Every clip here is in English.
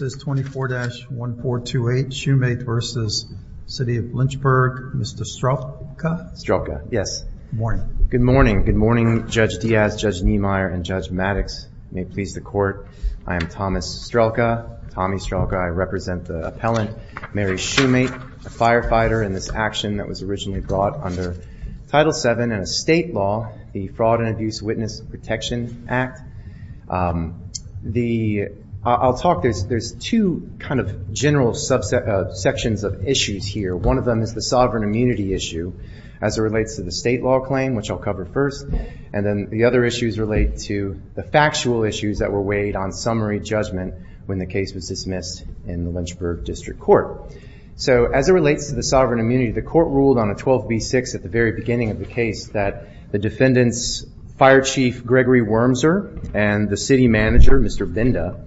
24-1428 Shumate v. City of Lynchburg, Mr. Strelka. Strelka, yes. Good morning. Good morning. Good morning, Judge Diaz, Judge Niemeyer, and Judge Maddox. May it please the court, I am Thomas Strelka, Tommy Strelka. I represent the appellant, Mary Shumate, a firefighter in this action that was originally brought under Title VII in a state law, the Fraud and Abuse Witness Protection Act. The, I'll talk, there's two kind of general sections of issues here. One of them is the sovereign immunity issue as it relates to the state law claim, which I'll cover first, and then the other issues relate to the factual issues that were weighed on summary judgment when the case was dismissed in the Lynchburg District Court. So as it relates to the sovereign immunity, the court ruled on a 12b-6 at the very beginning of the case that the defendant's fire chief, Gregory Wormser, and the city manager, Mr. Binda,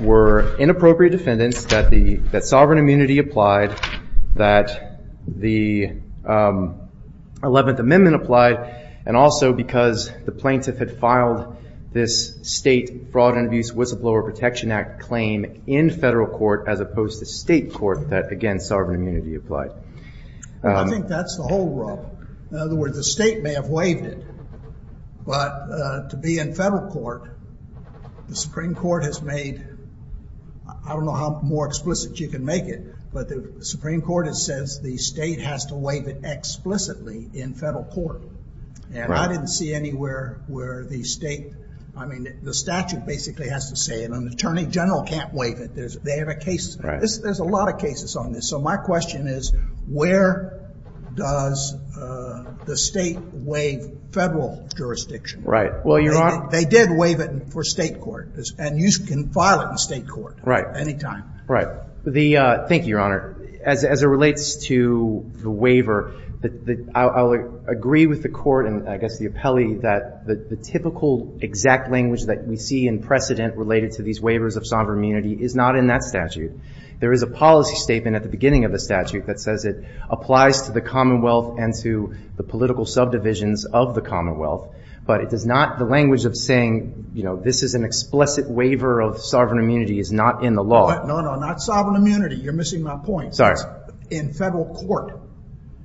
were inappropriate defendants, that the, that sovereign immunity applied, that the Eleventh Amendment applied, and also because the plaintiff had filed this state Fraud and Abuse Whistleblower Protection Act claim in federal court as opposed to state court that, again, sovereign immunity applied. I think that's the whole rub. In other words, the state may have waived it, but to be in federal court, the Supreme Court has made, I don't know how more explicit you can make it, but the Supreme Court has says the state has to waive it explicitly in federal court. And I didn't see anywhere where the state, I mean, the statute basically has to say it, and an attorney general can't waive it. They have a case, there's a lot of cases on this. So my question is, where does the state waive federal jurisdiction? Right. Well, Your Honor. They did waive it for state court, and you can file it in state court. Right. Anytime. Right. The, thank you, Your Honor. As it relates to the waiver, I'll agree with the court and I guess the appellee that the typical exact language that we see in precedent related to these waivers of sovereign immunity is not in that statute. There is a policy statement at the beginning of the statute that says it applies to the commonwealth and to the political subdivisions of the commonwealth, but it does not, the language of saying, you know, this is an explicit waiver of sovereign immunity is not in the law. No, no, not sovereign immunity. You're missing my point. Sorry. In federal court.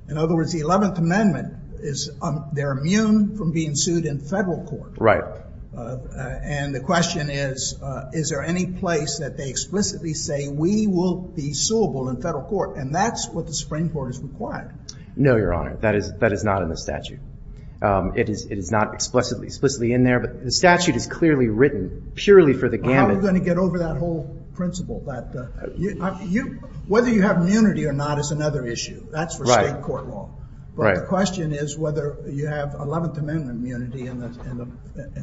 In other words, the 11th Amendment is, they're immune from being sued in federal court. Right. And the question is, is there any place that they explicitly say we will be suable in federal court? And that's what the Supreme Court has required. No, Your Honor. That is, that is not in the statute. It is, it is not explicitly, explicitly in there, but the statute is clearly written purely for the gamut. How are we going to get over that whole principle that you, whether you have immunity or not is another issue. That's for state court law. Right. Right. And the other question is whether you have 11th Amendment immunity in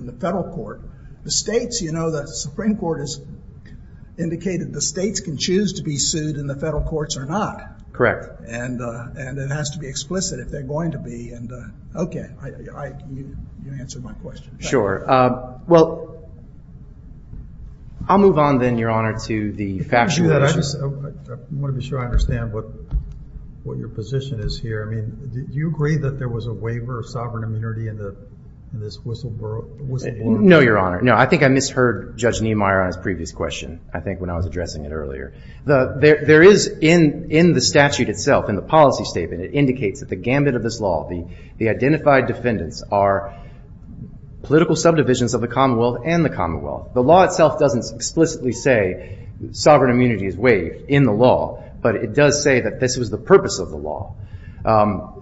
the federal court. The states, you know, the Supreme Court has indicated the states can choose to be sued in the federal courts or not. Correct. And, and it has to be explicit if they're going to be, and, okay, I, I, you answered my question. Sure. Well, I'll move on then, Your Honor, to the factual issue. I just want to be sure I understand what, what your position is here. I mean, do you agree that there was a waiver of sovereign immunity in the, in this whistleblower, whistleblower case? No, Your Honor. No, I think I misheard Judge Niemeyer on his previous question, I think, when I was addressing it earlier. The, there, there is in, in the statute itself, in the policy statement, it indicates that the gamut of this law, the, the identified defendants are political subdivisions of the Commonwealth and the Commonwealth. The law itself doesn't explicitly say sovereign immunity is waived in the law, but it does say that this was the purpose of the law.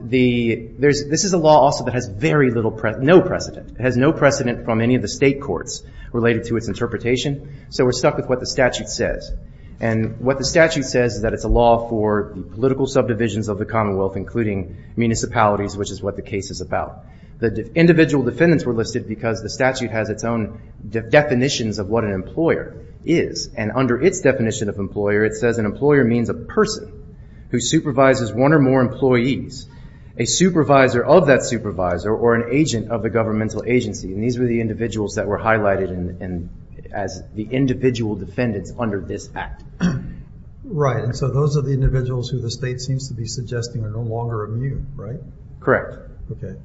The, there's, this is a law also that has very little, no precedent, has no precedent from any of the state courts related to its interpretation, so we're stuck with what the statute says. And what the statute says is that it's a law for the political subdivisions of the Commonwealth, including municipalities, which is what the case is about. The individual defendants were listed because the statute has its own definitions of what an employer is. And under its definition of employer, it says an employer means a person who supervises one or more employees, a supervisor of that supervisor, or an agent of the governmental agency. And these were the individuals that were highlighted in, in, as the individual defendants under this act. Right. And so those are the individuals who the state seems to be suggesting are no longer immune, right? Correct. Okay.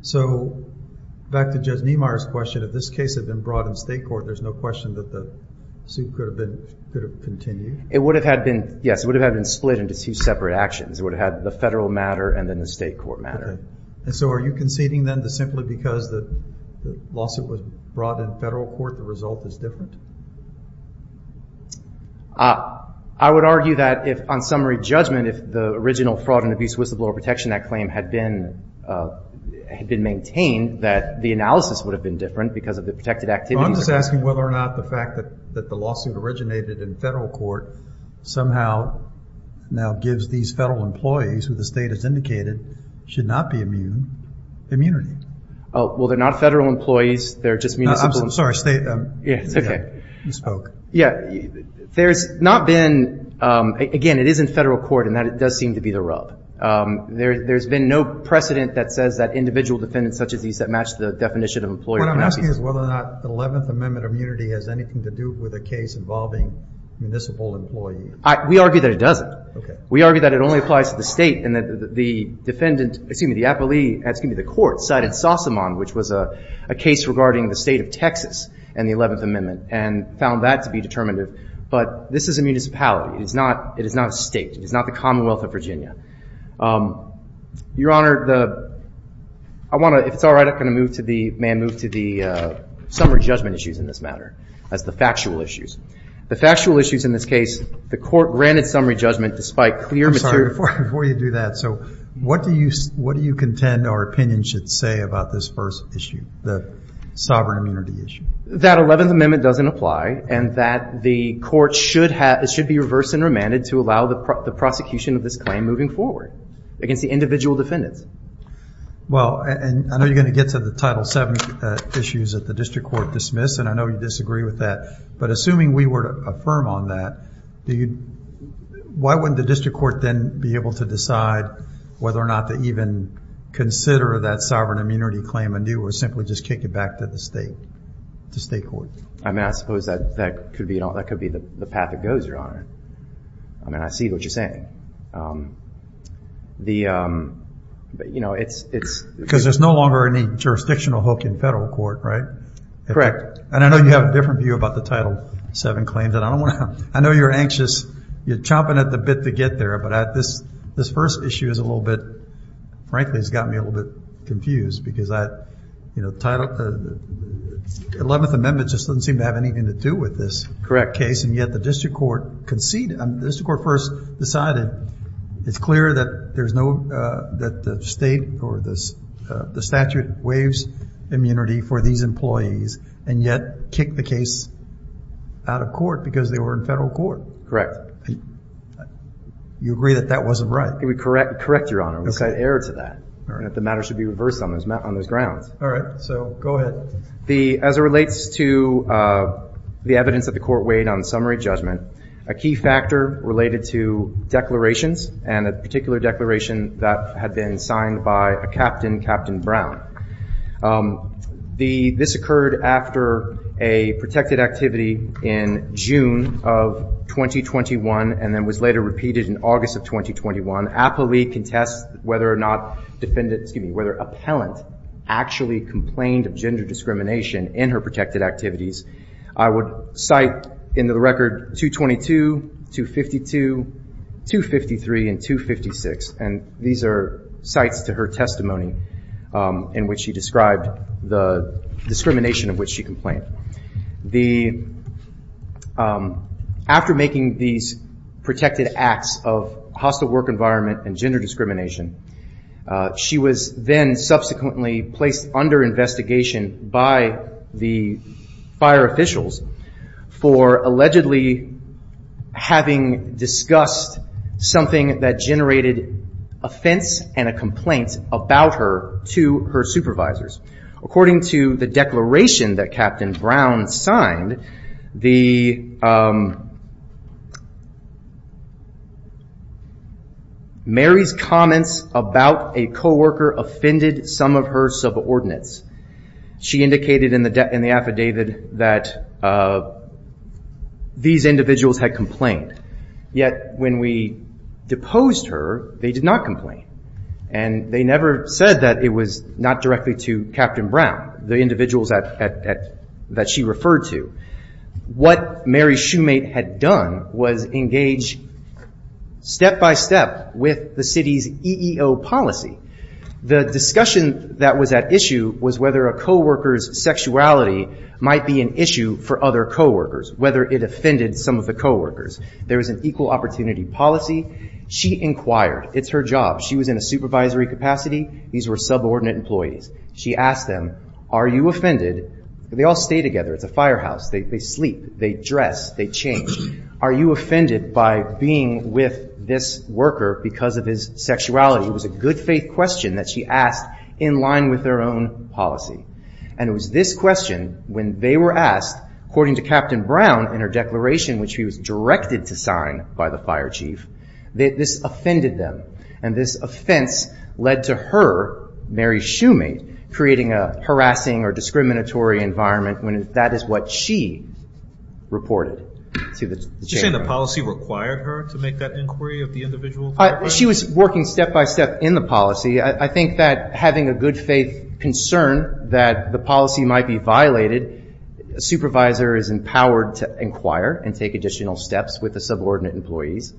So back to Judge Niemeyer's question, if this case had been brought in state court, there's no question that the suit could have been, could have continued? It would have had been, yes, it would have had been split into two separate actions. It would have had the federal matter and then the state court matter. Okay. And so are you conceding then that simply because the, the lawsuit was brought in federal court, the result is different? I would argue that if, on summary judgment, if the original fraud and abuse whistleblower protection, that claim had been, had been maintained, that the analysis would have been different because of the protected activity. So I'm just asking whether or not the fact that, that the lawsuit originated in federal court somehow now gives these federal employees, who the state has indicated should not be immune, immunity? Oh, well, they're not federal employees. They're just municipal. I'm sorry, state. Yeah. It's okay. You spoke. Yeah. There's not been, again, it is in federal court and that does seem to be the rub. There's been no precedent that says that individual defendants such as these that match the definition of employer. What I'm asking is whether or not the 11th Amendment immunity has anything to do with a case involving municipal employees. We argue that it doesn't. Okay. We argue that it only applies to the state and that the defendant, excuse me, the appellee, excuse me, the court cited Sossamon, which was a case regarding the state of Texas and the 11th Amendment and found that to be determinative. But this is a municipality. It is not, it is not a state. It is not the Commonwealth of Virginia. Your Honor, the, I want to, if it's all right, I'm going to move to the, may I move to the summary judgment issues in this matter as the factual issues. The factual issues in this case, the court granted summary judgment despite clear material. Before you do that, so what do you, what do you contend our opinion should say about this first issue, the sovereign immunity issue? That 11th Amendment doesn't apply and that the court should have, it should be reversed and remanded to allow the prosecution of this claim moving forward against the individual defendants. Well, and I know you're going to get to the Title VII issues that the district court dismissed, and I know you disagree with that, but assuming we were to affirm on that, do you, why wouldn't the district court then be able to decide whether or not to even consider that sovereign immunity claim anew or simply just kick it back to the state, to state court? I mean, I suppose that, that could be, that could be the path it goes, Your Honor. I mean, I see what you're saying. The, you know, it's, it's. Because there's no longer any jurisdictional hook in federal court, right? Correct. And I know you have a different view about the Title VII claims, and I don't want to, I know you're anxious, you're chomping at the bit to get there, but this, this first issue is a little bit, frankly, it's got me a little bit confused because I, you know, the Title, the 11th Amendment just doesn't seem to have anything to do with this case. And yet the district court conceded. I mean, the district court first decided it's clear that there's no, that the state or this, the statute waives immunity for these employees and yet kicked the case out of court because they were in federal court. Correct. You agree that that wasn't right? Correct. Correct, Your Honor. Okay. We said error to that. All right. So go ahead. The, as it relates to the evidence that the court weighed on summary judgment, a key factor related to declarations and a particular declaration that had been signed by a captain, Captain Brown. The, this occurred after a protected activity in June of 2021 and then was later repeated in August of 2021. Appellee contests whether or not defendant, excuse me, whether appellant actually complained of gender discrimination in her protected activities. I would cite in the record 222, 252, 253, and 256. And these are sites to her testimony in which she described the discrimination of which she complained. The, after making these protected acts of hostile work environment and gender discrimination, she was then subsequently placed under investigation by the fire officials for allegedly having discussed something that generated offense and a complaint about her to her supervisors. According to the declaration that Captain Brown signed, the, Mary's comments about a coworker offended some of her subordinates. She indicated in the affidavit that these individuals had complained. Yet when we deposed her, they did not complain and they never said that it was not directly to Captain Brown, the individuals that, that she referred to. What Mary Shoemate had done was engage step-by-step with the city's EEO policy. The discussion that was at issue was whether a coworker's sexuality might be an issue for other coworkers, whether it offended some of the coworkers. There was an equal opportunity policy. She inquired, it's her job. She was in a supervisory capacity. These were subordinate employees. She asked them, are you offended? They all stay together. It's a firehouse. They sleep. They dress. They change. Are you offended by being with this worker because of his sexuality? It was a good faith question that she asked in line with their own policy. And it was this question, when they were asked, according to Captain Brown in her declaration, which he was directed to sign by the fire chief, that this offended them. And this offense led to her, Mary Shoemate, creating a harassing or discriminatory environment when that is what she reported to the chairman. Did you say the policy required her to make that inquiry of the individual coworkers? She was working step-by-step in the policy. I think that having a good faith concern that the policy might be violated, a supervisor is empowered to inquire and take additional steps with the subordinate employees.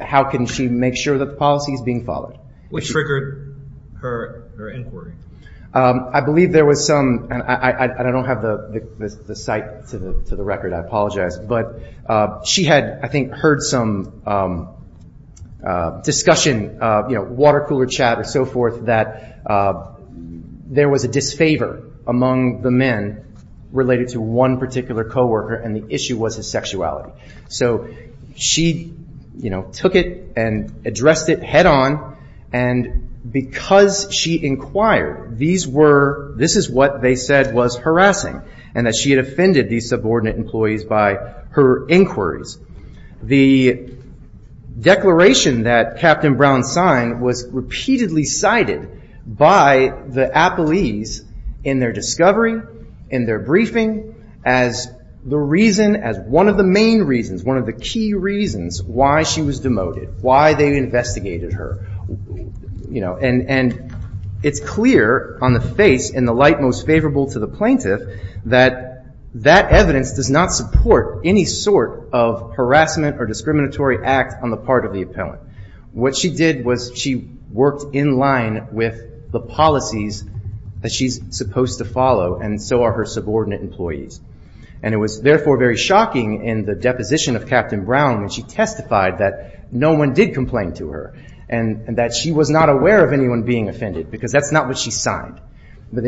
How can she make sure that the policy is being followed? Which triggered her inquiry? I believe there was some, and I don't have the site to the record, I apologize. But she had, I think, heard some discussion, water cooler chat and so forth, that there was a disfavor among the men related to one particular coworker, and the issue was his sexuality. So she took it and addressed it head on, and because she inquired, this is what they said was harassing, and that she had offended these subordinate employees by her inquiries. The declaration that Captain Brown signed was repeatedly cited by the appellees in their discovery, in their briefing, as one of the main reasons, one of the key reasons why she was demoted, why they investigated her. It's clear on the face, in the light most favorable to the plaintiff, that that evidence does not support any sort of harassment or discriminatory act on the part of the appellant. What she did was, she worked in line with the policies that she's supposed to follow, and so are her subordinate employees. It was therefore very shocking in the deposition of Captain Brown when she testified that no one did complain to her, and that she was not aware of anyone being offended, because that's not what she signed.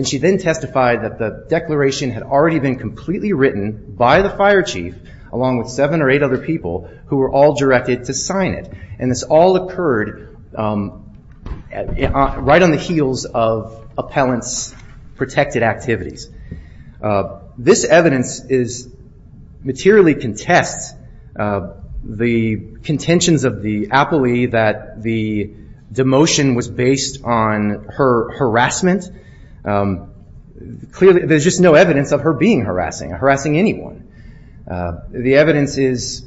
She then testified that the declaration had already been completely written by the fire chief, along with seven or eight other people, who were all directed to sign it. This all occurred right on the heels of appellant's protected activities. This evidence materially contests the contentions of the appellee that the demotion was based on her harassment. There's just no evidence of her being harassing, harassing anyone. The evidence is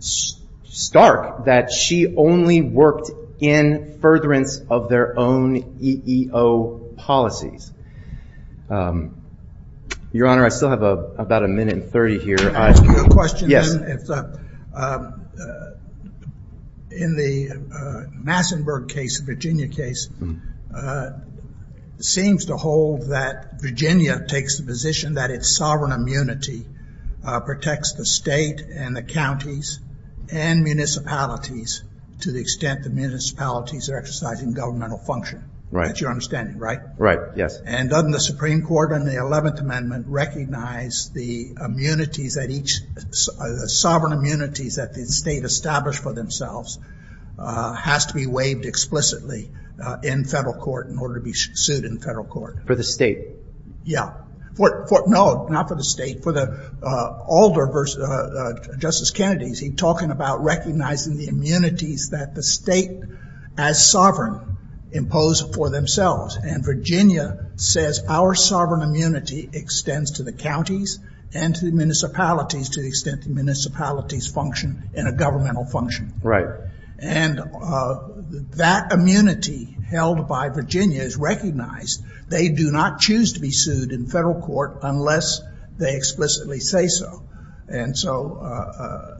stark that she only worked in furtherance of their own EEO policies. Your Honor, I still have about a minute and 30 here. I have a question. In the Massenburg case, the Virginia case, seems to hold that Virginia takes the position that its sovereign immunity protects the state and the counties and municipalities to the extent the municipalities are exercising governmental function. That's your understanding, right? Right, yes. Doesn't the Supreme Court in the 11th Amendment recognize the sovereign immunities that the state established for themselves has to be waived explicitly in federal court in order to be sued in federal court? For the state? Yeah. No, not for the state. For the Alder versus Justice Kennedy, he's talking about recognizing the immunities that the state as sovereign impose for themselves. Virginia says our sovereign immunity extends to the counties and to the municipalities to the extent the municipalities function in a governmental function. Right. And that immunity held by Virginia is recognized. They do not choose to be sued in federal court unless they explicitly say so. And so,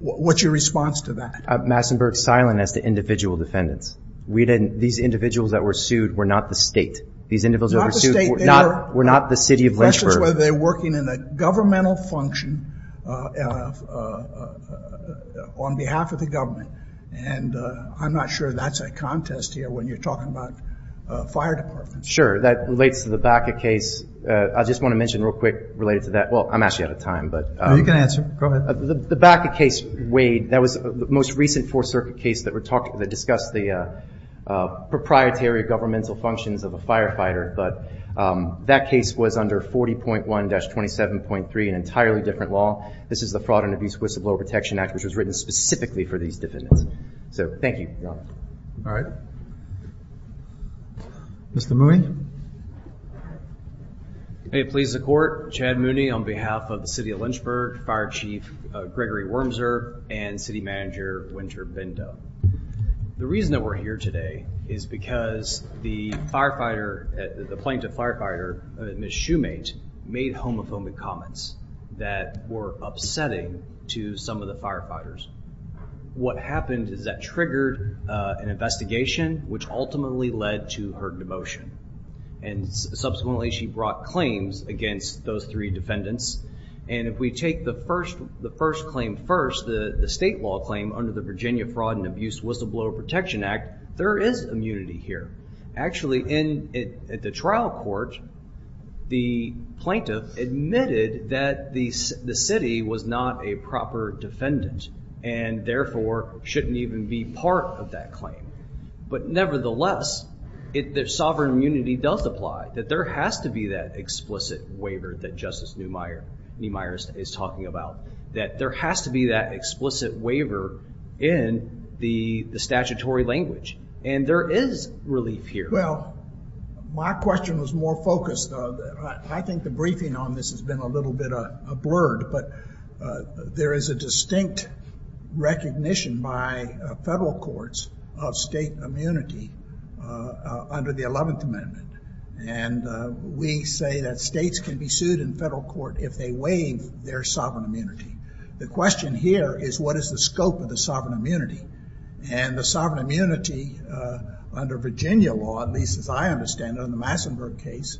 what's your response to that? Massenburg's silent as to individual defendants. These individuals that were sued were not the state. These individuals that were sued were not the city of Lynchburg. They're working in a governmental function on behalf of the government. And I'm not sure that's a contest here when you're talking about fire departments. Sure. That relates to the Baca case. I just want to mention real quick related to that. Well, I'm actually out of time. You can answer. Go ahead. The Baca case, Wade, that was the most recent Fourth Circuit case that discussed the proprietary governmental functions of a firefighter. But that case was under 40.1-27.3, an entirely different law. This is the Fraud and Abuse Whistleblower Protection Act, which was written specifically for these defendants. So, thank you, Your Honor. All right. Mr. Mooney? May it please the Court. Chad Mooney on behalf of the city of Lynchburg, Fire Chief Gregory Wormser, and City Manager Winter Bindo. The reason that we're here today is because the plaintiff firefighter, Ms. Shoemate, made homophobic comments that were upsetting to some of the firefighters. What happened is that triggered an investigation, which ultimately led to her demotion. And subsequently, she brought claims against those three defendants. And if we take the first claim first, the state law claim under the Virginia Fraud and Abuse Whistleblower Protection Act, there is immunity here. Actually, at the trial court, the plaintiff admitted that the city was not a proper defendant, and therefore, shouldn't even be part of that claim. But nevertheless, the sovereign immunity does apply, that there has to be that explicit waiver that Justice Neumeier is talking about. That there has to be that explicit waiver in the statutory language. And there is relief here. Well, my question was more focused on, I think the briefing on this has been a little bit blurred, but there is a distinct recognition by federal courts of state immunity under the 11th Amendment. And we say that states can be sued in federal court if they waive their sovereign immunity. The question here is, what is the scope of the sovereign immunity? And the sovereign immunity, under Virginia law, at least as I understand it, in the Massenburg case,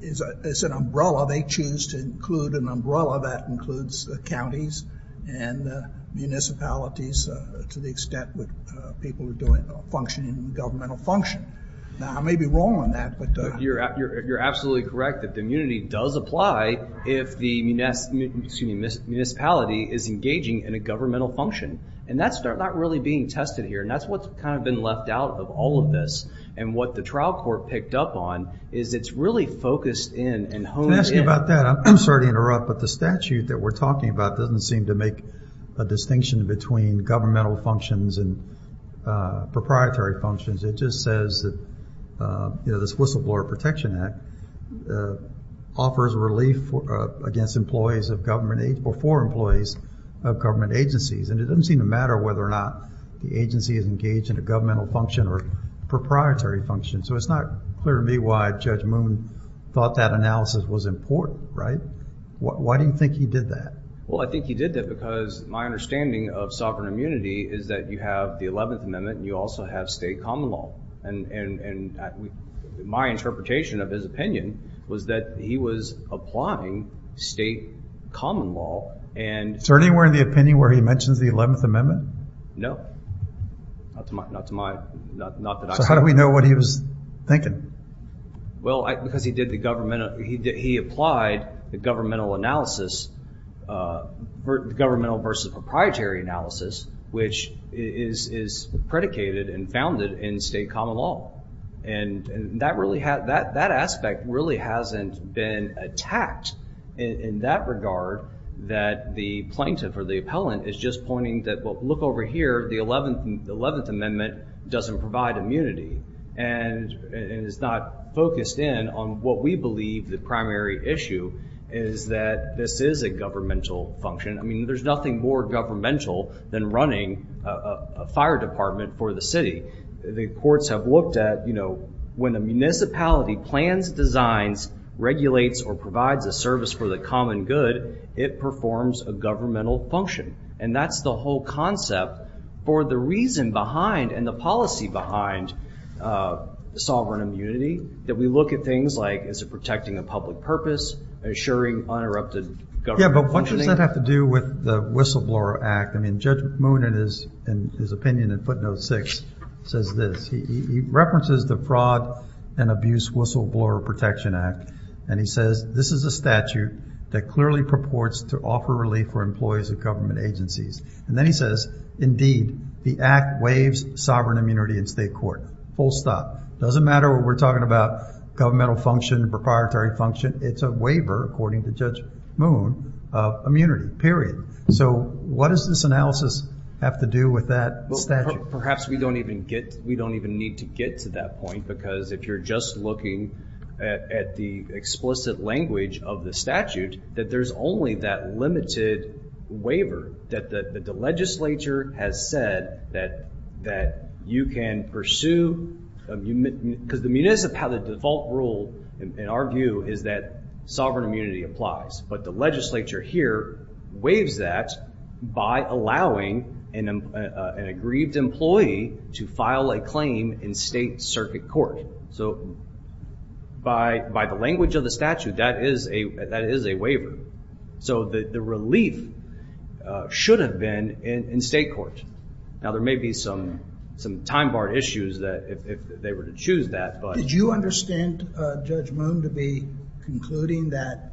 is an umbrella. They choose to include an umbrella that includes the counties and municipalities to the extent that people are functioning in governmental function. Now, I may be wrong on that, but... You're absolutely correct that the immunity does apply if the municipality is engaging in a governmental function. And that's not really being tested here. And that's what's kind of been left out of all of this. And what the trial court picked up on is it's really focused in and honed in... Can I ask you about that? I'm sorry to interrupt, but the statute that we're talking about doesn't seem to make a distinction between governmental functions and proprietary functions. It just says that, you know, this Whistleblower Protection Act offers relief against employees of government... Or for employees of government agencies. And it doesn't seem to matter whether or not the agency is engaged in a governmental function or a proprietary function. So it's not clear to me why Judge Moon thought that analysis was important, right? Why do you think he did that? Well, I think he did that because my understanding of sovereign immunity is that you have the 11th Amendment and you also have state common law. And my interpretation of his opinion was that he was applying state common law and... Is there anywhere in the opinion where he mentions the 11th Amendment? No. Not to my... Not that I... So how do we know what he was thinking? Well because he did the governmental... He applied the governmental analysis, governmental versus proprietary analysis, which is predicated and founded in state common law. And that aspect really hasn't been attacked in that regard that the plaintiff or the appellant is just pointing that, well, look over here, the 11th Amendment doesn't provide immunity and is not focused in on what we believe the primary issue is that this is a governmental function. I mean, there's nothing more governmental than running a fire department for the city. The courts have looked at when a municipality plans, designs, regulates, or provides a service for the common good, it performs a governmental function. And that's the whole concept for the reason behind and the policy behind sovereign immunity that we look at things like, is it protecting a public purpose, ensuring uninterrupted government Yeah, but what does that have to do with the Whistleblower Act? I mean, Judge Moon in his opinion in footnote six says this. He references the Fraud and Abuse Whistleblower Protection Act. And he says, this is a statute that clearly purports to offer relief for employees of government agencies. And then he says, indeed, the act waives sovereign immunity in state court, full stop. Doesn't matter what we're talking about governmental function, proprietary function, it's a waiver, according to Judge Moon, of immunity, period. So what does this analysis have to do with that statute? Perhaps we don't even get, we don't even need to get to that point because if you're just looking at the explicit language of the statute, that there's only that limited waiver that the legislature has said that you can pursue, because the municipal, the default rule in our view is that sovereign immunity applies. But the legislature here waives that by allowing an aggrieved employee to file a claim in state circuit court. So by the language of the statute, that is a waiver. So the relief should have been in state court. Now, there may be some time bar issues that if they were to choose that, but. Did you understand Judge Moon to be concluding that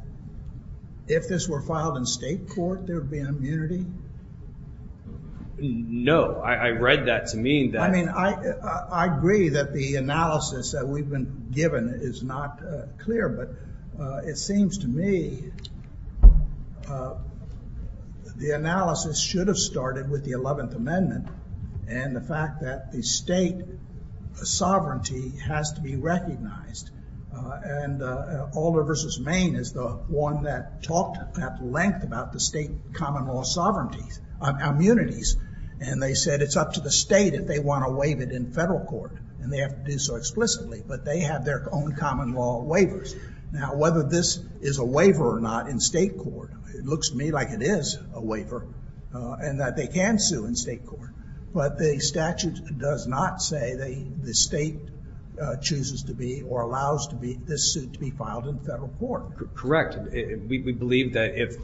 if this were filed in state court, there'd be immunity? No, I read that to mean that. I mean, I agree that the analysis that we've been given is not clear, but it seems to me the analysis should have started with the 11th Amendment and the fact that the state sovereignty has to be recognized. And Alder versus Maine is the one that talked at length about the state common law sovereignties, immunities. And they said it's up to the state if they want to waive it in federal court. And they have to do so explicitly, but they have their own common law waivers. Now, whether this is a waiver or not in state court, it looks to me like it is a waiver and that they can sue in state court. But the statute does not say the state chooses to be or allows this suit to be filed in federal court. Correct. We believe that if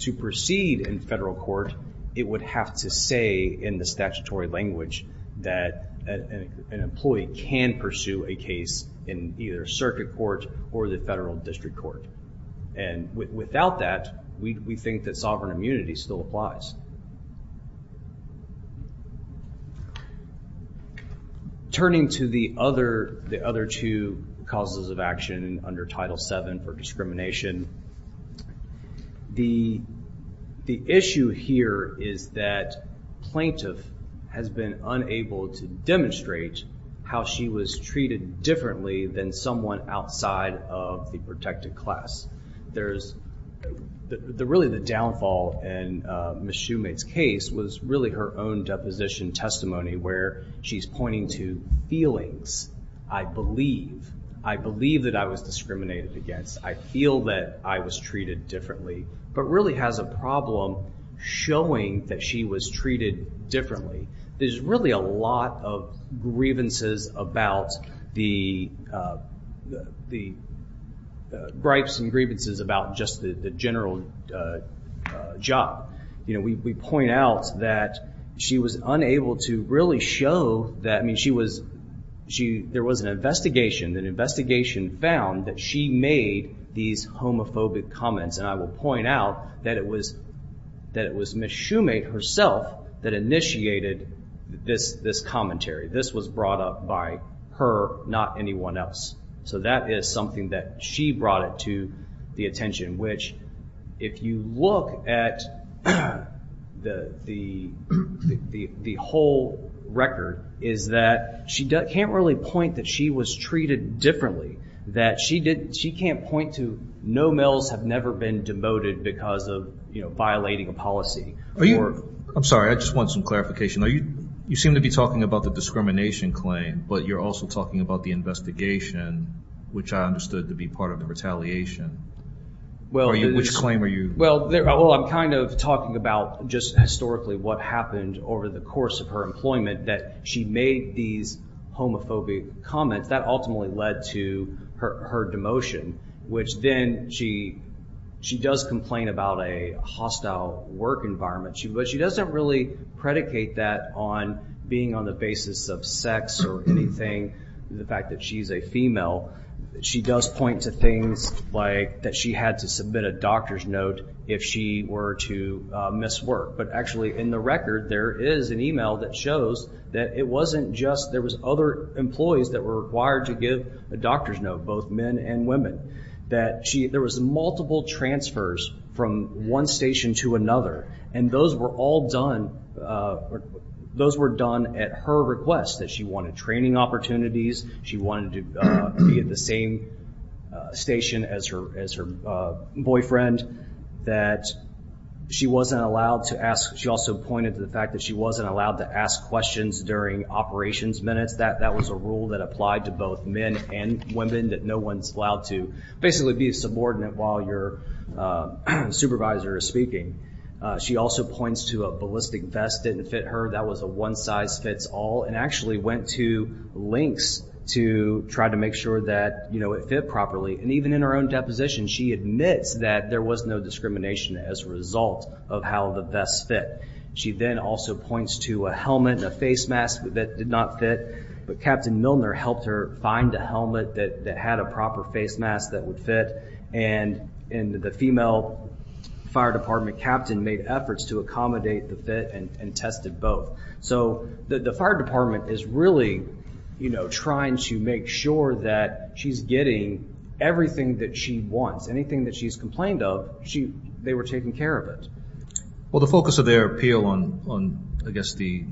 to proceed in federal court, it would have to say in the statutory language that an employee can pursue a case in either circuit court or the federal district court. And without that, we think that sovereign immunity still applies. Turning to the other two causes of action under Title VII for discrimination, the issue here is that plaintiff has been unable to demonstrate how she was treated differently than someone outside of the protected class. There's really the downfall in Ms. Shumate's case was really her own deposition testimony where she's pointing to feelings. I believe. I believe that I was discriminated against. I feel that I was treated differently. But really has a problem showing that she was treated differently. There's really a lot of grievances about the gripes and grievances about just the general job. You know, we point out that she was unable to really show that. I mean, she was, there was an investigation. An investigation found that she made these homophobic comments. And I will point out that it was Ms. Shumate herself that initiated this commentary. This was brought up by her, not anyone else. So that is something that she brought it to the attention. Which, if you look at the whole record, is that she can't really point that she was treated differently. That she can't point to no males have never been demoted because of violating a policy. I'm sorry, I just want some clarification. You seem to be talking about the discrimination claim, but you're also talking about the investigation, which I understood to be part of the retaliation. Which claim are you? Well, I'm kind of talking about just historically what happened over the course of her employment that she made these homophobic comments. That ultimately led to her demotion. Which then, she does complain about a hostile work environment. But she doesn't really predicate that on being on the basis of sex or anything. The fact that she's a female. She does point to things like that she had to submit a doctor's note if she were to miss work. But actually, in the record, there is an email that shows that it wasn't just, there was other employees that were required to give a doctor's note, both men and women. That there was multiple transfers from one station to another. And those were all done, those were done at her request. That she wanted training opportunities. She wanted to be at the same station as her boyfriend. That she wasn't allowed to ask, she also pointed to the fact that she wasn't allowed to ask questions during operations minutes. That that was a rule that applied to both men and women. That no one's allowed to basically be a subordinate while your supervisor is speaking. She also points to a ballistic vest didn't fit her. That was a one size fits all. And actually went to lengths to try to make sure that it fit properly. And even in her own deposition, she admits that there was no discrimination as a result of how the vest fit. She then also points to a helmet and a face mask that did not fit. But Captain Milner helped her find a helmet that had a proper face mask that would fit. And the female fire department captain made efforts to accommodate the fit and tested both. So the fire department is really trying to make sure that she's getting everything that she wants. Anything that she's complained of, they were taking care of it. Well, the focus of their appeal on, I guess, the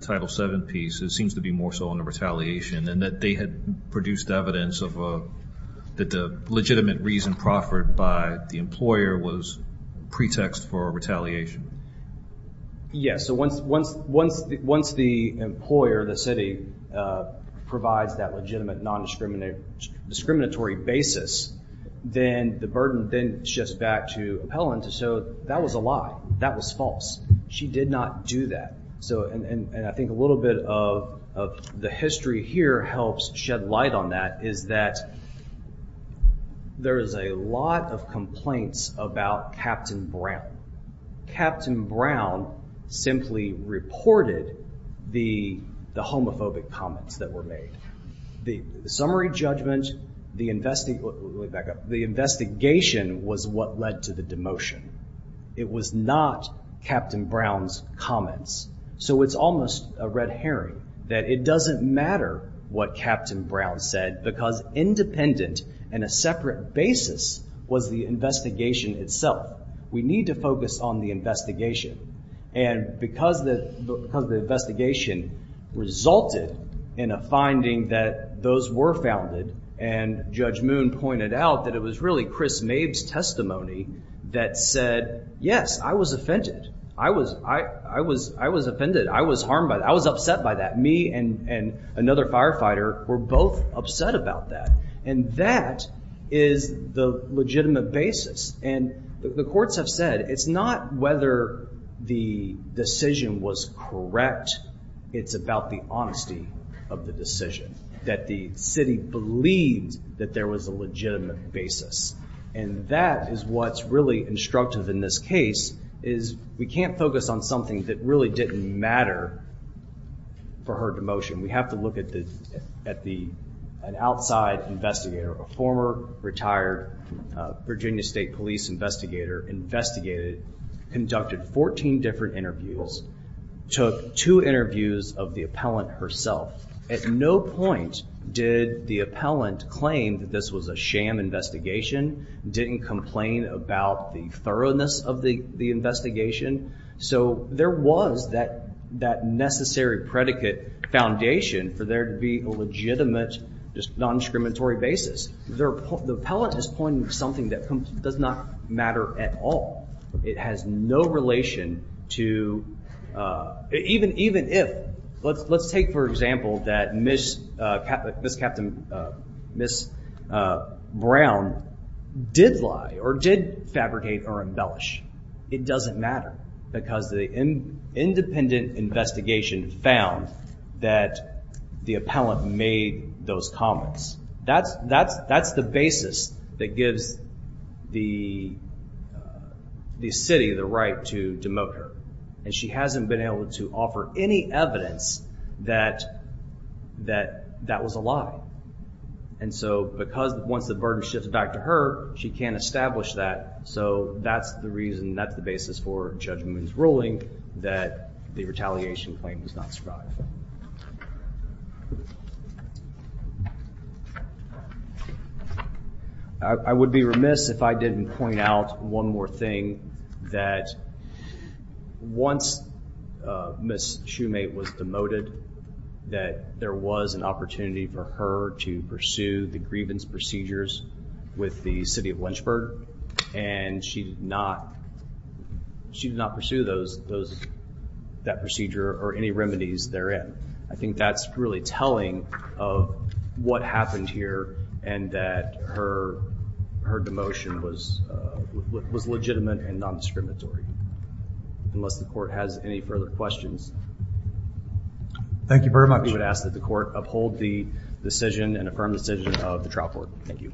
Title VII piece, it seems to be more so on the retaliation. And that they had produced evidence of that the legitimate reason proffered by the employer was pretext for retaliation. Yes. So once the employer, the city, provides that legitimate non-discriminatory basis, then the burden then shifts back to appellant. So that was a lie. That was false. She did not do that. So and I think a little bit of the history here helps shed light on that, is that there is a lot of complaints about Captain Brown. Captain Brown simply reported the homophobic comments that were made. The summary judgment, the investigation was what led to the demotion. It was not Captain Brown's comments. So it's almost a red herring that it doesn't matter what Captain Brown said, because independent and a separate basis was the investigation itself. We need to focus on the investigation. And because the investigation resulted in a finding that those were founded, and Judge Moon pointed out that it was really Chris Maeve's testimony that said, yes, I was offended. I was, I was, I was offended. I was harmed by that. I was upset by that. Me and another firefighter were both upset about that. And that is the legitimate basis. And the courts have said, it's not whether the decision was correct. It's about the honesty of the decision, that the city believes that there was a legitimate basis. And that is what's really instructive in this case, is we can't focus on something that really didn't matter for her demotion. We have to look at the, at the, an outside investigator, a former retired Virginia State Police investigator, investigated, conducted 14 different interviews, took two interviews of the appellant herself. At no point did the appellant claim that this was a sham investigation, didn't complain about the thoroughness of the investigation. So there was that, that necessary predicate foundation for there to be a legitimate, just non-discriminatory basis. The appellant is pointing to something that does not matter at all. It has no relation to, even, even if, let's, let's take for example that Miss Captain, Miss Brown did lie or did fabricate or embellish. It doesn't matter because the independent investigation found that the appellant made those comments. That's, that's, that's the basis that gives the, the city the right to demote her. And she hasn't been able to offer any evidence that, that, that was a lie. And so because once the burden shifts back to her, she can't establish that. So that's the reason, that's the basis for Judge Moon's ruling, that the retaliation claim does not survive. I would be remiss if I didn't point out one more thing. That once Miss Shoemate was demoted, that there was an opportunity for her to pursue the grievance procedures with the city of Lynchburg. And she did not, she did not pursue those, those, that procedure or any remedies therein. I think that's really telling of what happened here and that her, her demotion was, was legitimate and non-discriminatory, unless the court has any further questions. Thank you very much. We would ask that the court uphold the decision and affirm the decision of the trial court. Thank you.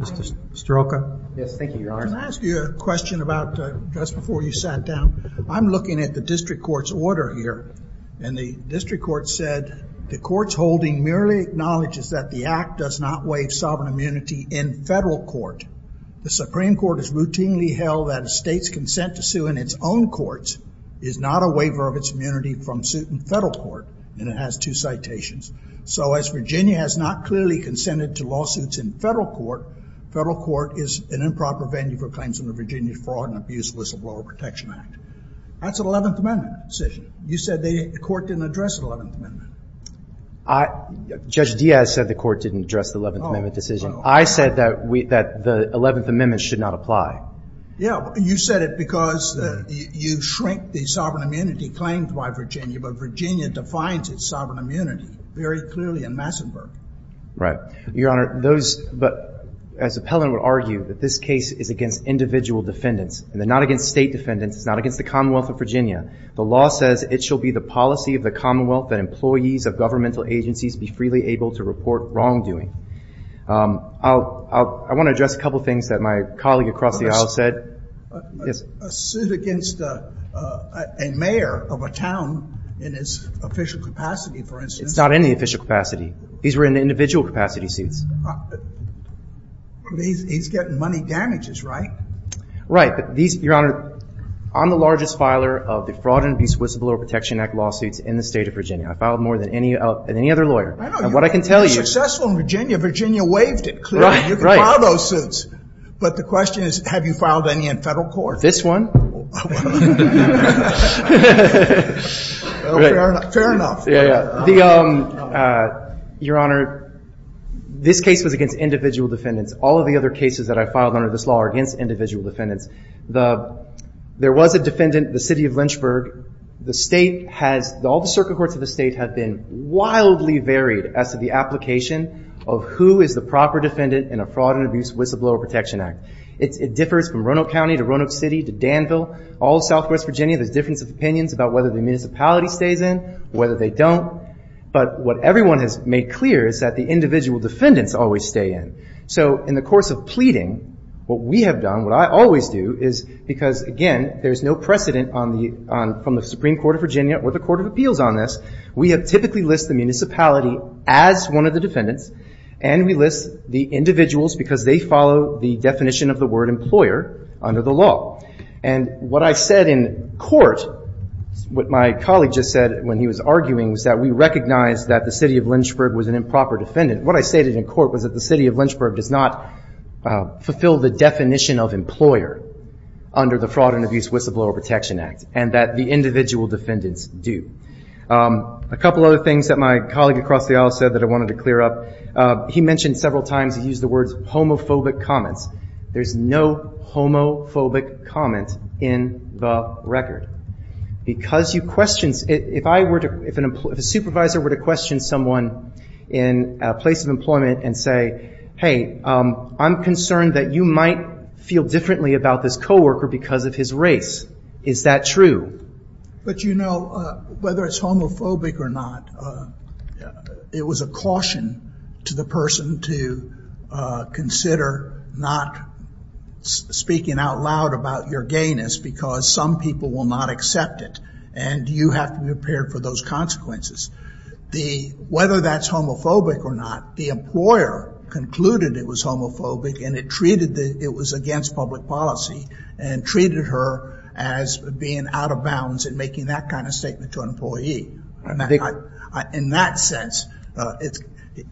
Mr. Strelka? Yes, thank you, Your Honor. Can I ask you a question about, just before you sat down? I'm looking at the district court's order here. And the district court said, the court's holding merely acknowledges that the act does not waive sovereign immunity in federal court. The Supreme Court has routinely held that a state's consent to sue in its own courts is not a waiver of its immunity from suit in federal court. And it has two citations. So as Virginia has not clearly consented to lawsuits in federal court, federal court is an improper venue for claims under Virginia's Fraud and Abuse Whistleblower Protection Act. That's an 11th Amendment decision. You said they, the court didn't address the 11th Amendment. I, Judge Diaz said the court didn't address the 11th Amendment decision. I said that we, that the 11th Amendment should not apply. Yeah, you said it because you, you shrink the sovereign immunity claimed by Virginia, but Virginia defines its sovereign immunity very clearly in Massenburg. Your Honor, those, but as Appellant would argue that this case is against individual defendants, and they're not against state defendants, it's not against the Commonwealth of Virginia. The law says it shall be the policy of the Commonwealth that employees of governmental agencies be freely able to report wrongdoing. I'll, I'll, I want to address a couple of things that my colleague across the aisle said. Yes. A suit against a, a, a mayor of a town in its official capacity, for instance. It's not in the official capacity. These were in the individual capacity suits. But he's, he's getting money damages, right? Right. But these, Your Honor, I'm the largest filer of the Fraud and Abuse Whistleblower Protection Act lawsuits in the state of Virginia. I filed more than any other lawyer. I know. And what I can tell you. You've been successful in Virginia. Virginia waived it, clearly. Right, right. You can file those suits. But the question is, have you filed any in federal court? This one? Fair enough. Yeah, yeah. The, Your Honor, this case was against individual defendants. All of the other cases that I filed under this law are against individual defendants. The, there was a defendant in the city of Lynchburg. The state has, all the circuit courts of the state have been wildly varied as to the application of who is the proper defendant in a Fraud and Abuse Whistleblower Protection Act. It differs from Roanoke County to Roanoke City to Danville. All of southwest Virginia, there's difference of opinions about whether the municipality stays in, whether they don't. But what everyone has made clear is that the individual defendants always stay in. So in the course of pleading, what we have done, what I always do, is because, again, there's no precedent on the, from the Supreme Court of Virginia or the Court of Appeals on this, we have typically listed the municipality as one of the defendants, and we list the individuals because they follow the definition of the word employer under the law. And what I said in court, what my colleague just said when he was arguing, was that we recognize that the city of Lynchburg was an improper defendant. What I stated in court was that the city of Lynchburg does not fulfill the definition of employer under the Fraud and Abuse Whistleblower Protection Act, and that the individual defendants do. A couple other things that my colleague across the aisle said that I wanted to clear up. He mentioned several times, he used the words homophobic comments. There's no homophobic comment in the record. Because you question, if I were to, if a supervisor were to question someone in a place of employment and say, hey, I'm concerned that you might feel differently about this coworker because of his race. Is that true? But you know, whether it's homophobic or not, it was a caution to the person to consider not speaking out loud about your gayness, because some people will not accept it. And you have to be prepared for those consequences. Whether that's homophobic or not, the employer concluded it was homophobic, and it treated it was against public policy, and treated her as being out of bounds in making that kind of statement to an employee. In that sense,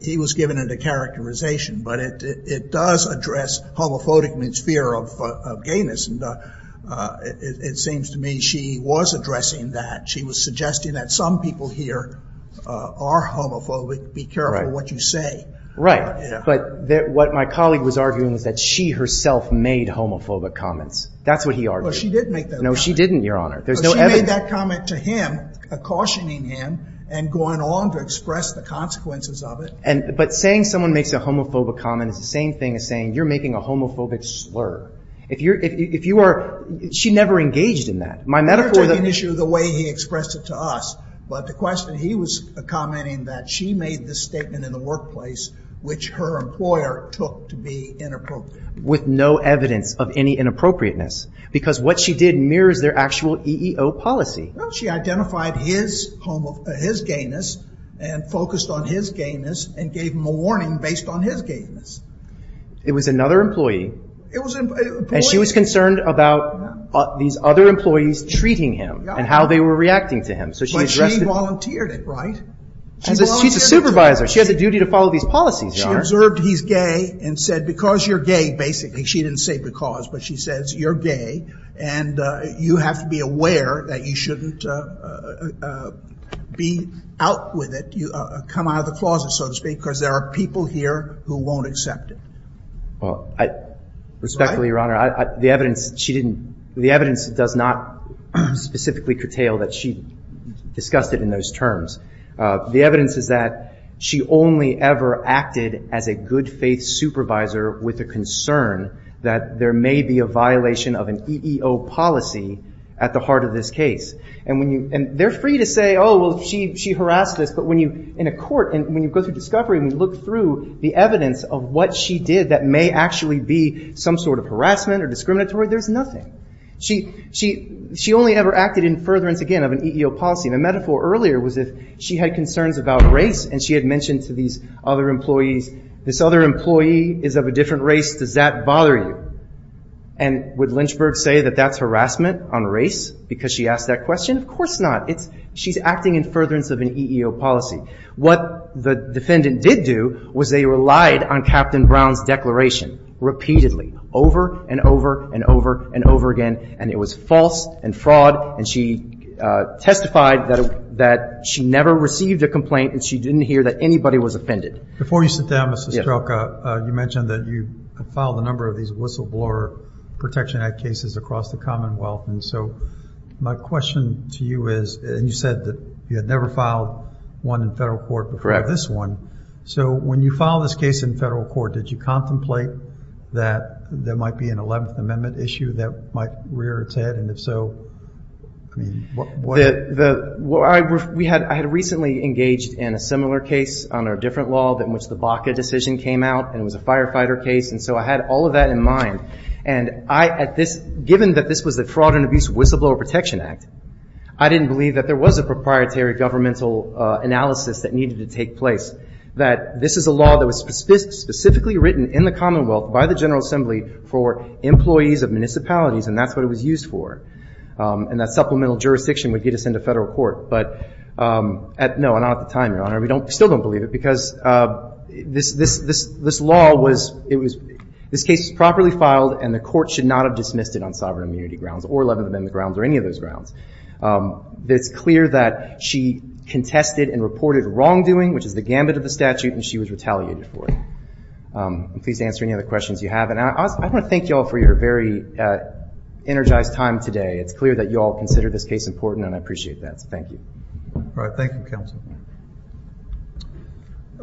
he was giving it a characterization. But it does address homophobic means fear of gayness. It seems to me she was addressing that. She was suggesting that some people here are homophobic, be careful what you say. But what my colleague was arguing was that she herself made homophobic comments. That's what he argued. Well, she did make that comment. No, she didn't, Your Honor. She made that comment to him, cautioning him and going along to express the consequences of it. But saying someone makes a homophobic comment is the same thing as saying you're making a homophobic slur. If you're, if you are, she never engaged in that. My metaphor of the issue, the way he expressed it to us, but the question he was commenting that she made this statement in the workplace, which her employer took to be inappropriate. With no evidence of any inappropriateness. Because what she did mirrors their actual EEO policy. She identified his gayness and focused on his gayness and gave him a warning based on his gayness. It was another employee. It was an employee. And she was concerned about these other employees treating him and how they were reacting to him. But she volunteered it, right? She's a supervisor. She has a duty to follow these policies, Your Honor. She observed he's gay and said, because you're gay, basically. She didn't say because, but she says, you're gay and you have to be aware that you shouldn't be out with it, come out of the closet, so to speak, because there are people here who won't accept it. Well, respectfully, Your Honor, the evidence, she didn't, the evidence does not specifically curtail that she discussed it in those terms. The evidence is that she only ever acted as a good faith supervisor with a concern that there may be a violation of an EEO policy at the heart of this case. And they're free to say, oh, well, she harassed us. But when you, in a court, and when you go through discovery and you look through the evidence of what she did that may actually be some sort of harassment or discriminatory, there's nothing. She only ever acted in furtherance, again, of an EEO policy. The metaphor earlier was if she had concerns about race and she had mentioned to these other employees, this other employee is of a different race, does that bother you? And would Lynchburg say that that's harassment on race because she asked that question? Of course not. She's acting in furtherance of an EEO policy. What the defendant did do was they relied on Captain Brown's declaration repeatedly, over and over and over and over again. And it was false and fraud. And she testified that she never received a complaint and she didn't hear that anybody was offended. Before you sit down, Mr. Strelka, you mentioned that you filed a number of these whistleblower Protection Act cases across the Commonwealth. And so my question to you is, and you said that you had never filed one in federal court before this one. So when you filed this case in federal court, did you contemplate that there might be an Eleventh Amendment issue that might rear its head? And if so, I mean, what? I had recently engaged in a similar case on a different law in which the Baca decision came out. And it was a firefighter case. And so I had all of that in mind. And given that this was the Fraud and Abuse Whistleblower Protection Act, I didn't believe that there was a proprietary governmental analysis that needed to take place, that this is a law that was specifically written in the Commonwealth by the General Assembly for employees of municipalities. And that's what it was used for. And that supplemental jurisdiction would get us into federal court. But no, not at the time, Your Honor, we still don't believe it. Because this law was, this case was properly filed and the court should not have dismissed it on sovereign immunity grounds or Eleventh Amendment grounds or any of those grounds. It's clear that she contested and reported wrongdoing, which is the gambit of the statute, and she was retaliated for it. I'm pleased to answer any other questions you have. And I want to thank you all for your very energized time today. It's clear that you all consider this case important and I appreciate that. So thank you. All right. Thank you, counsel.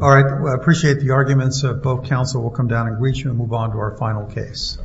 All right. Well, I appreciate the arguments. Both counsel will come down and greet you and move on to our final case.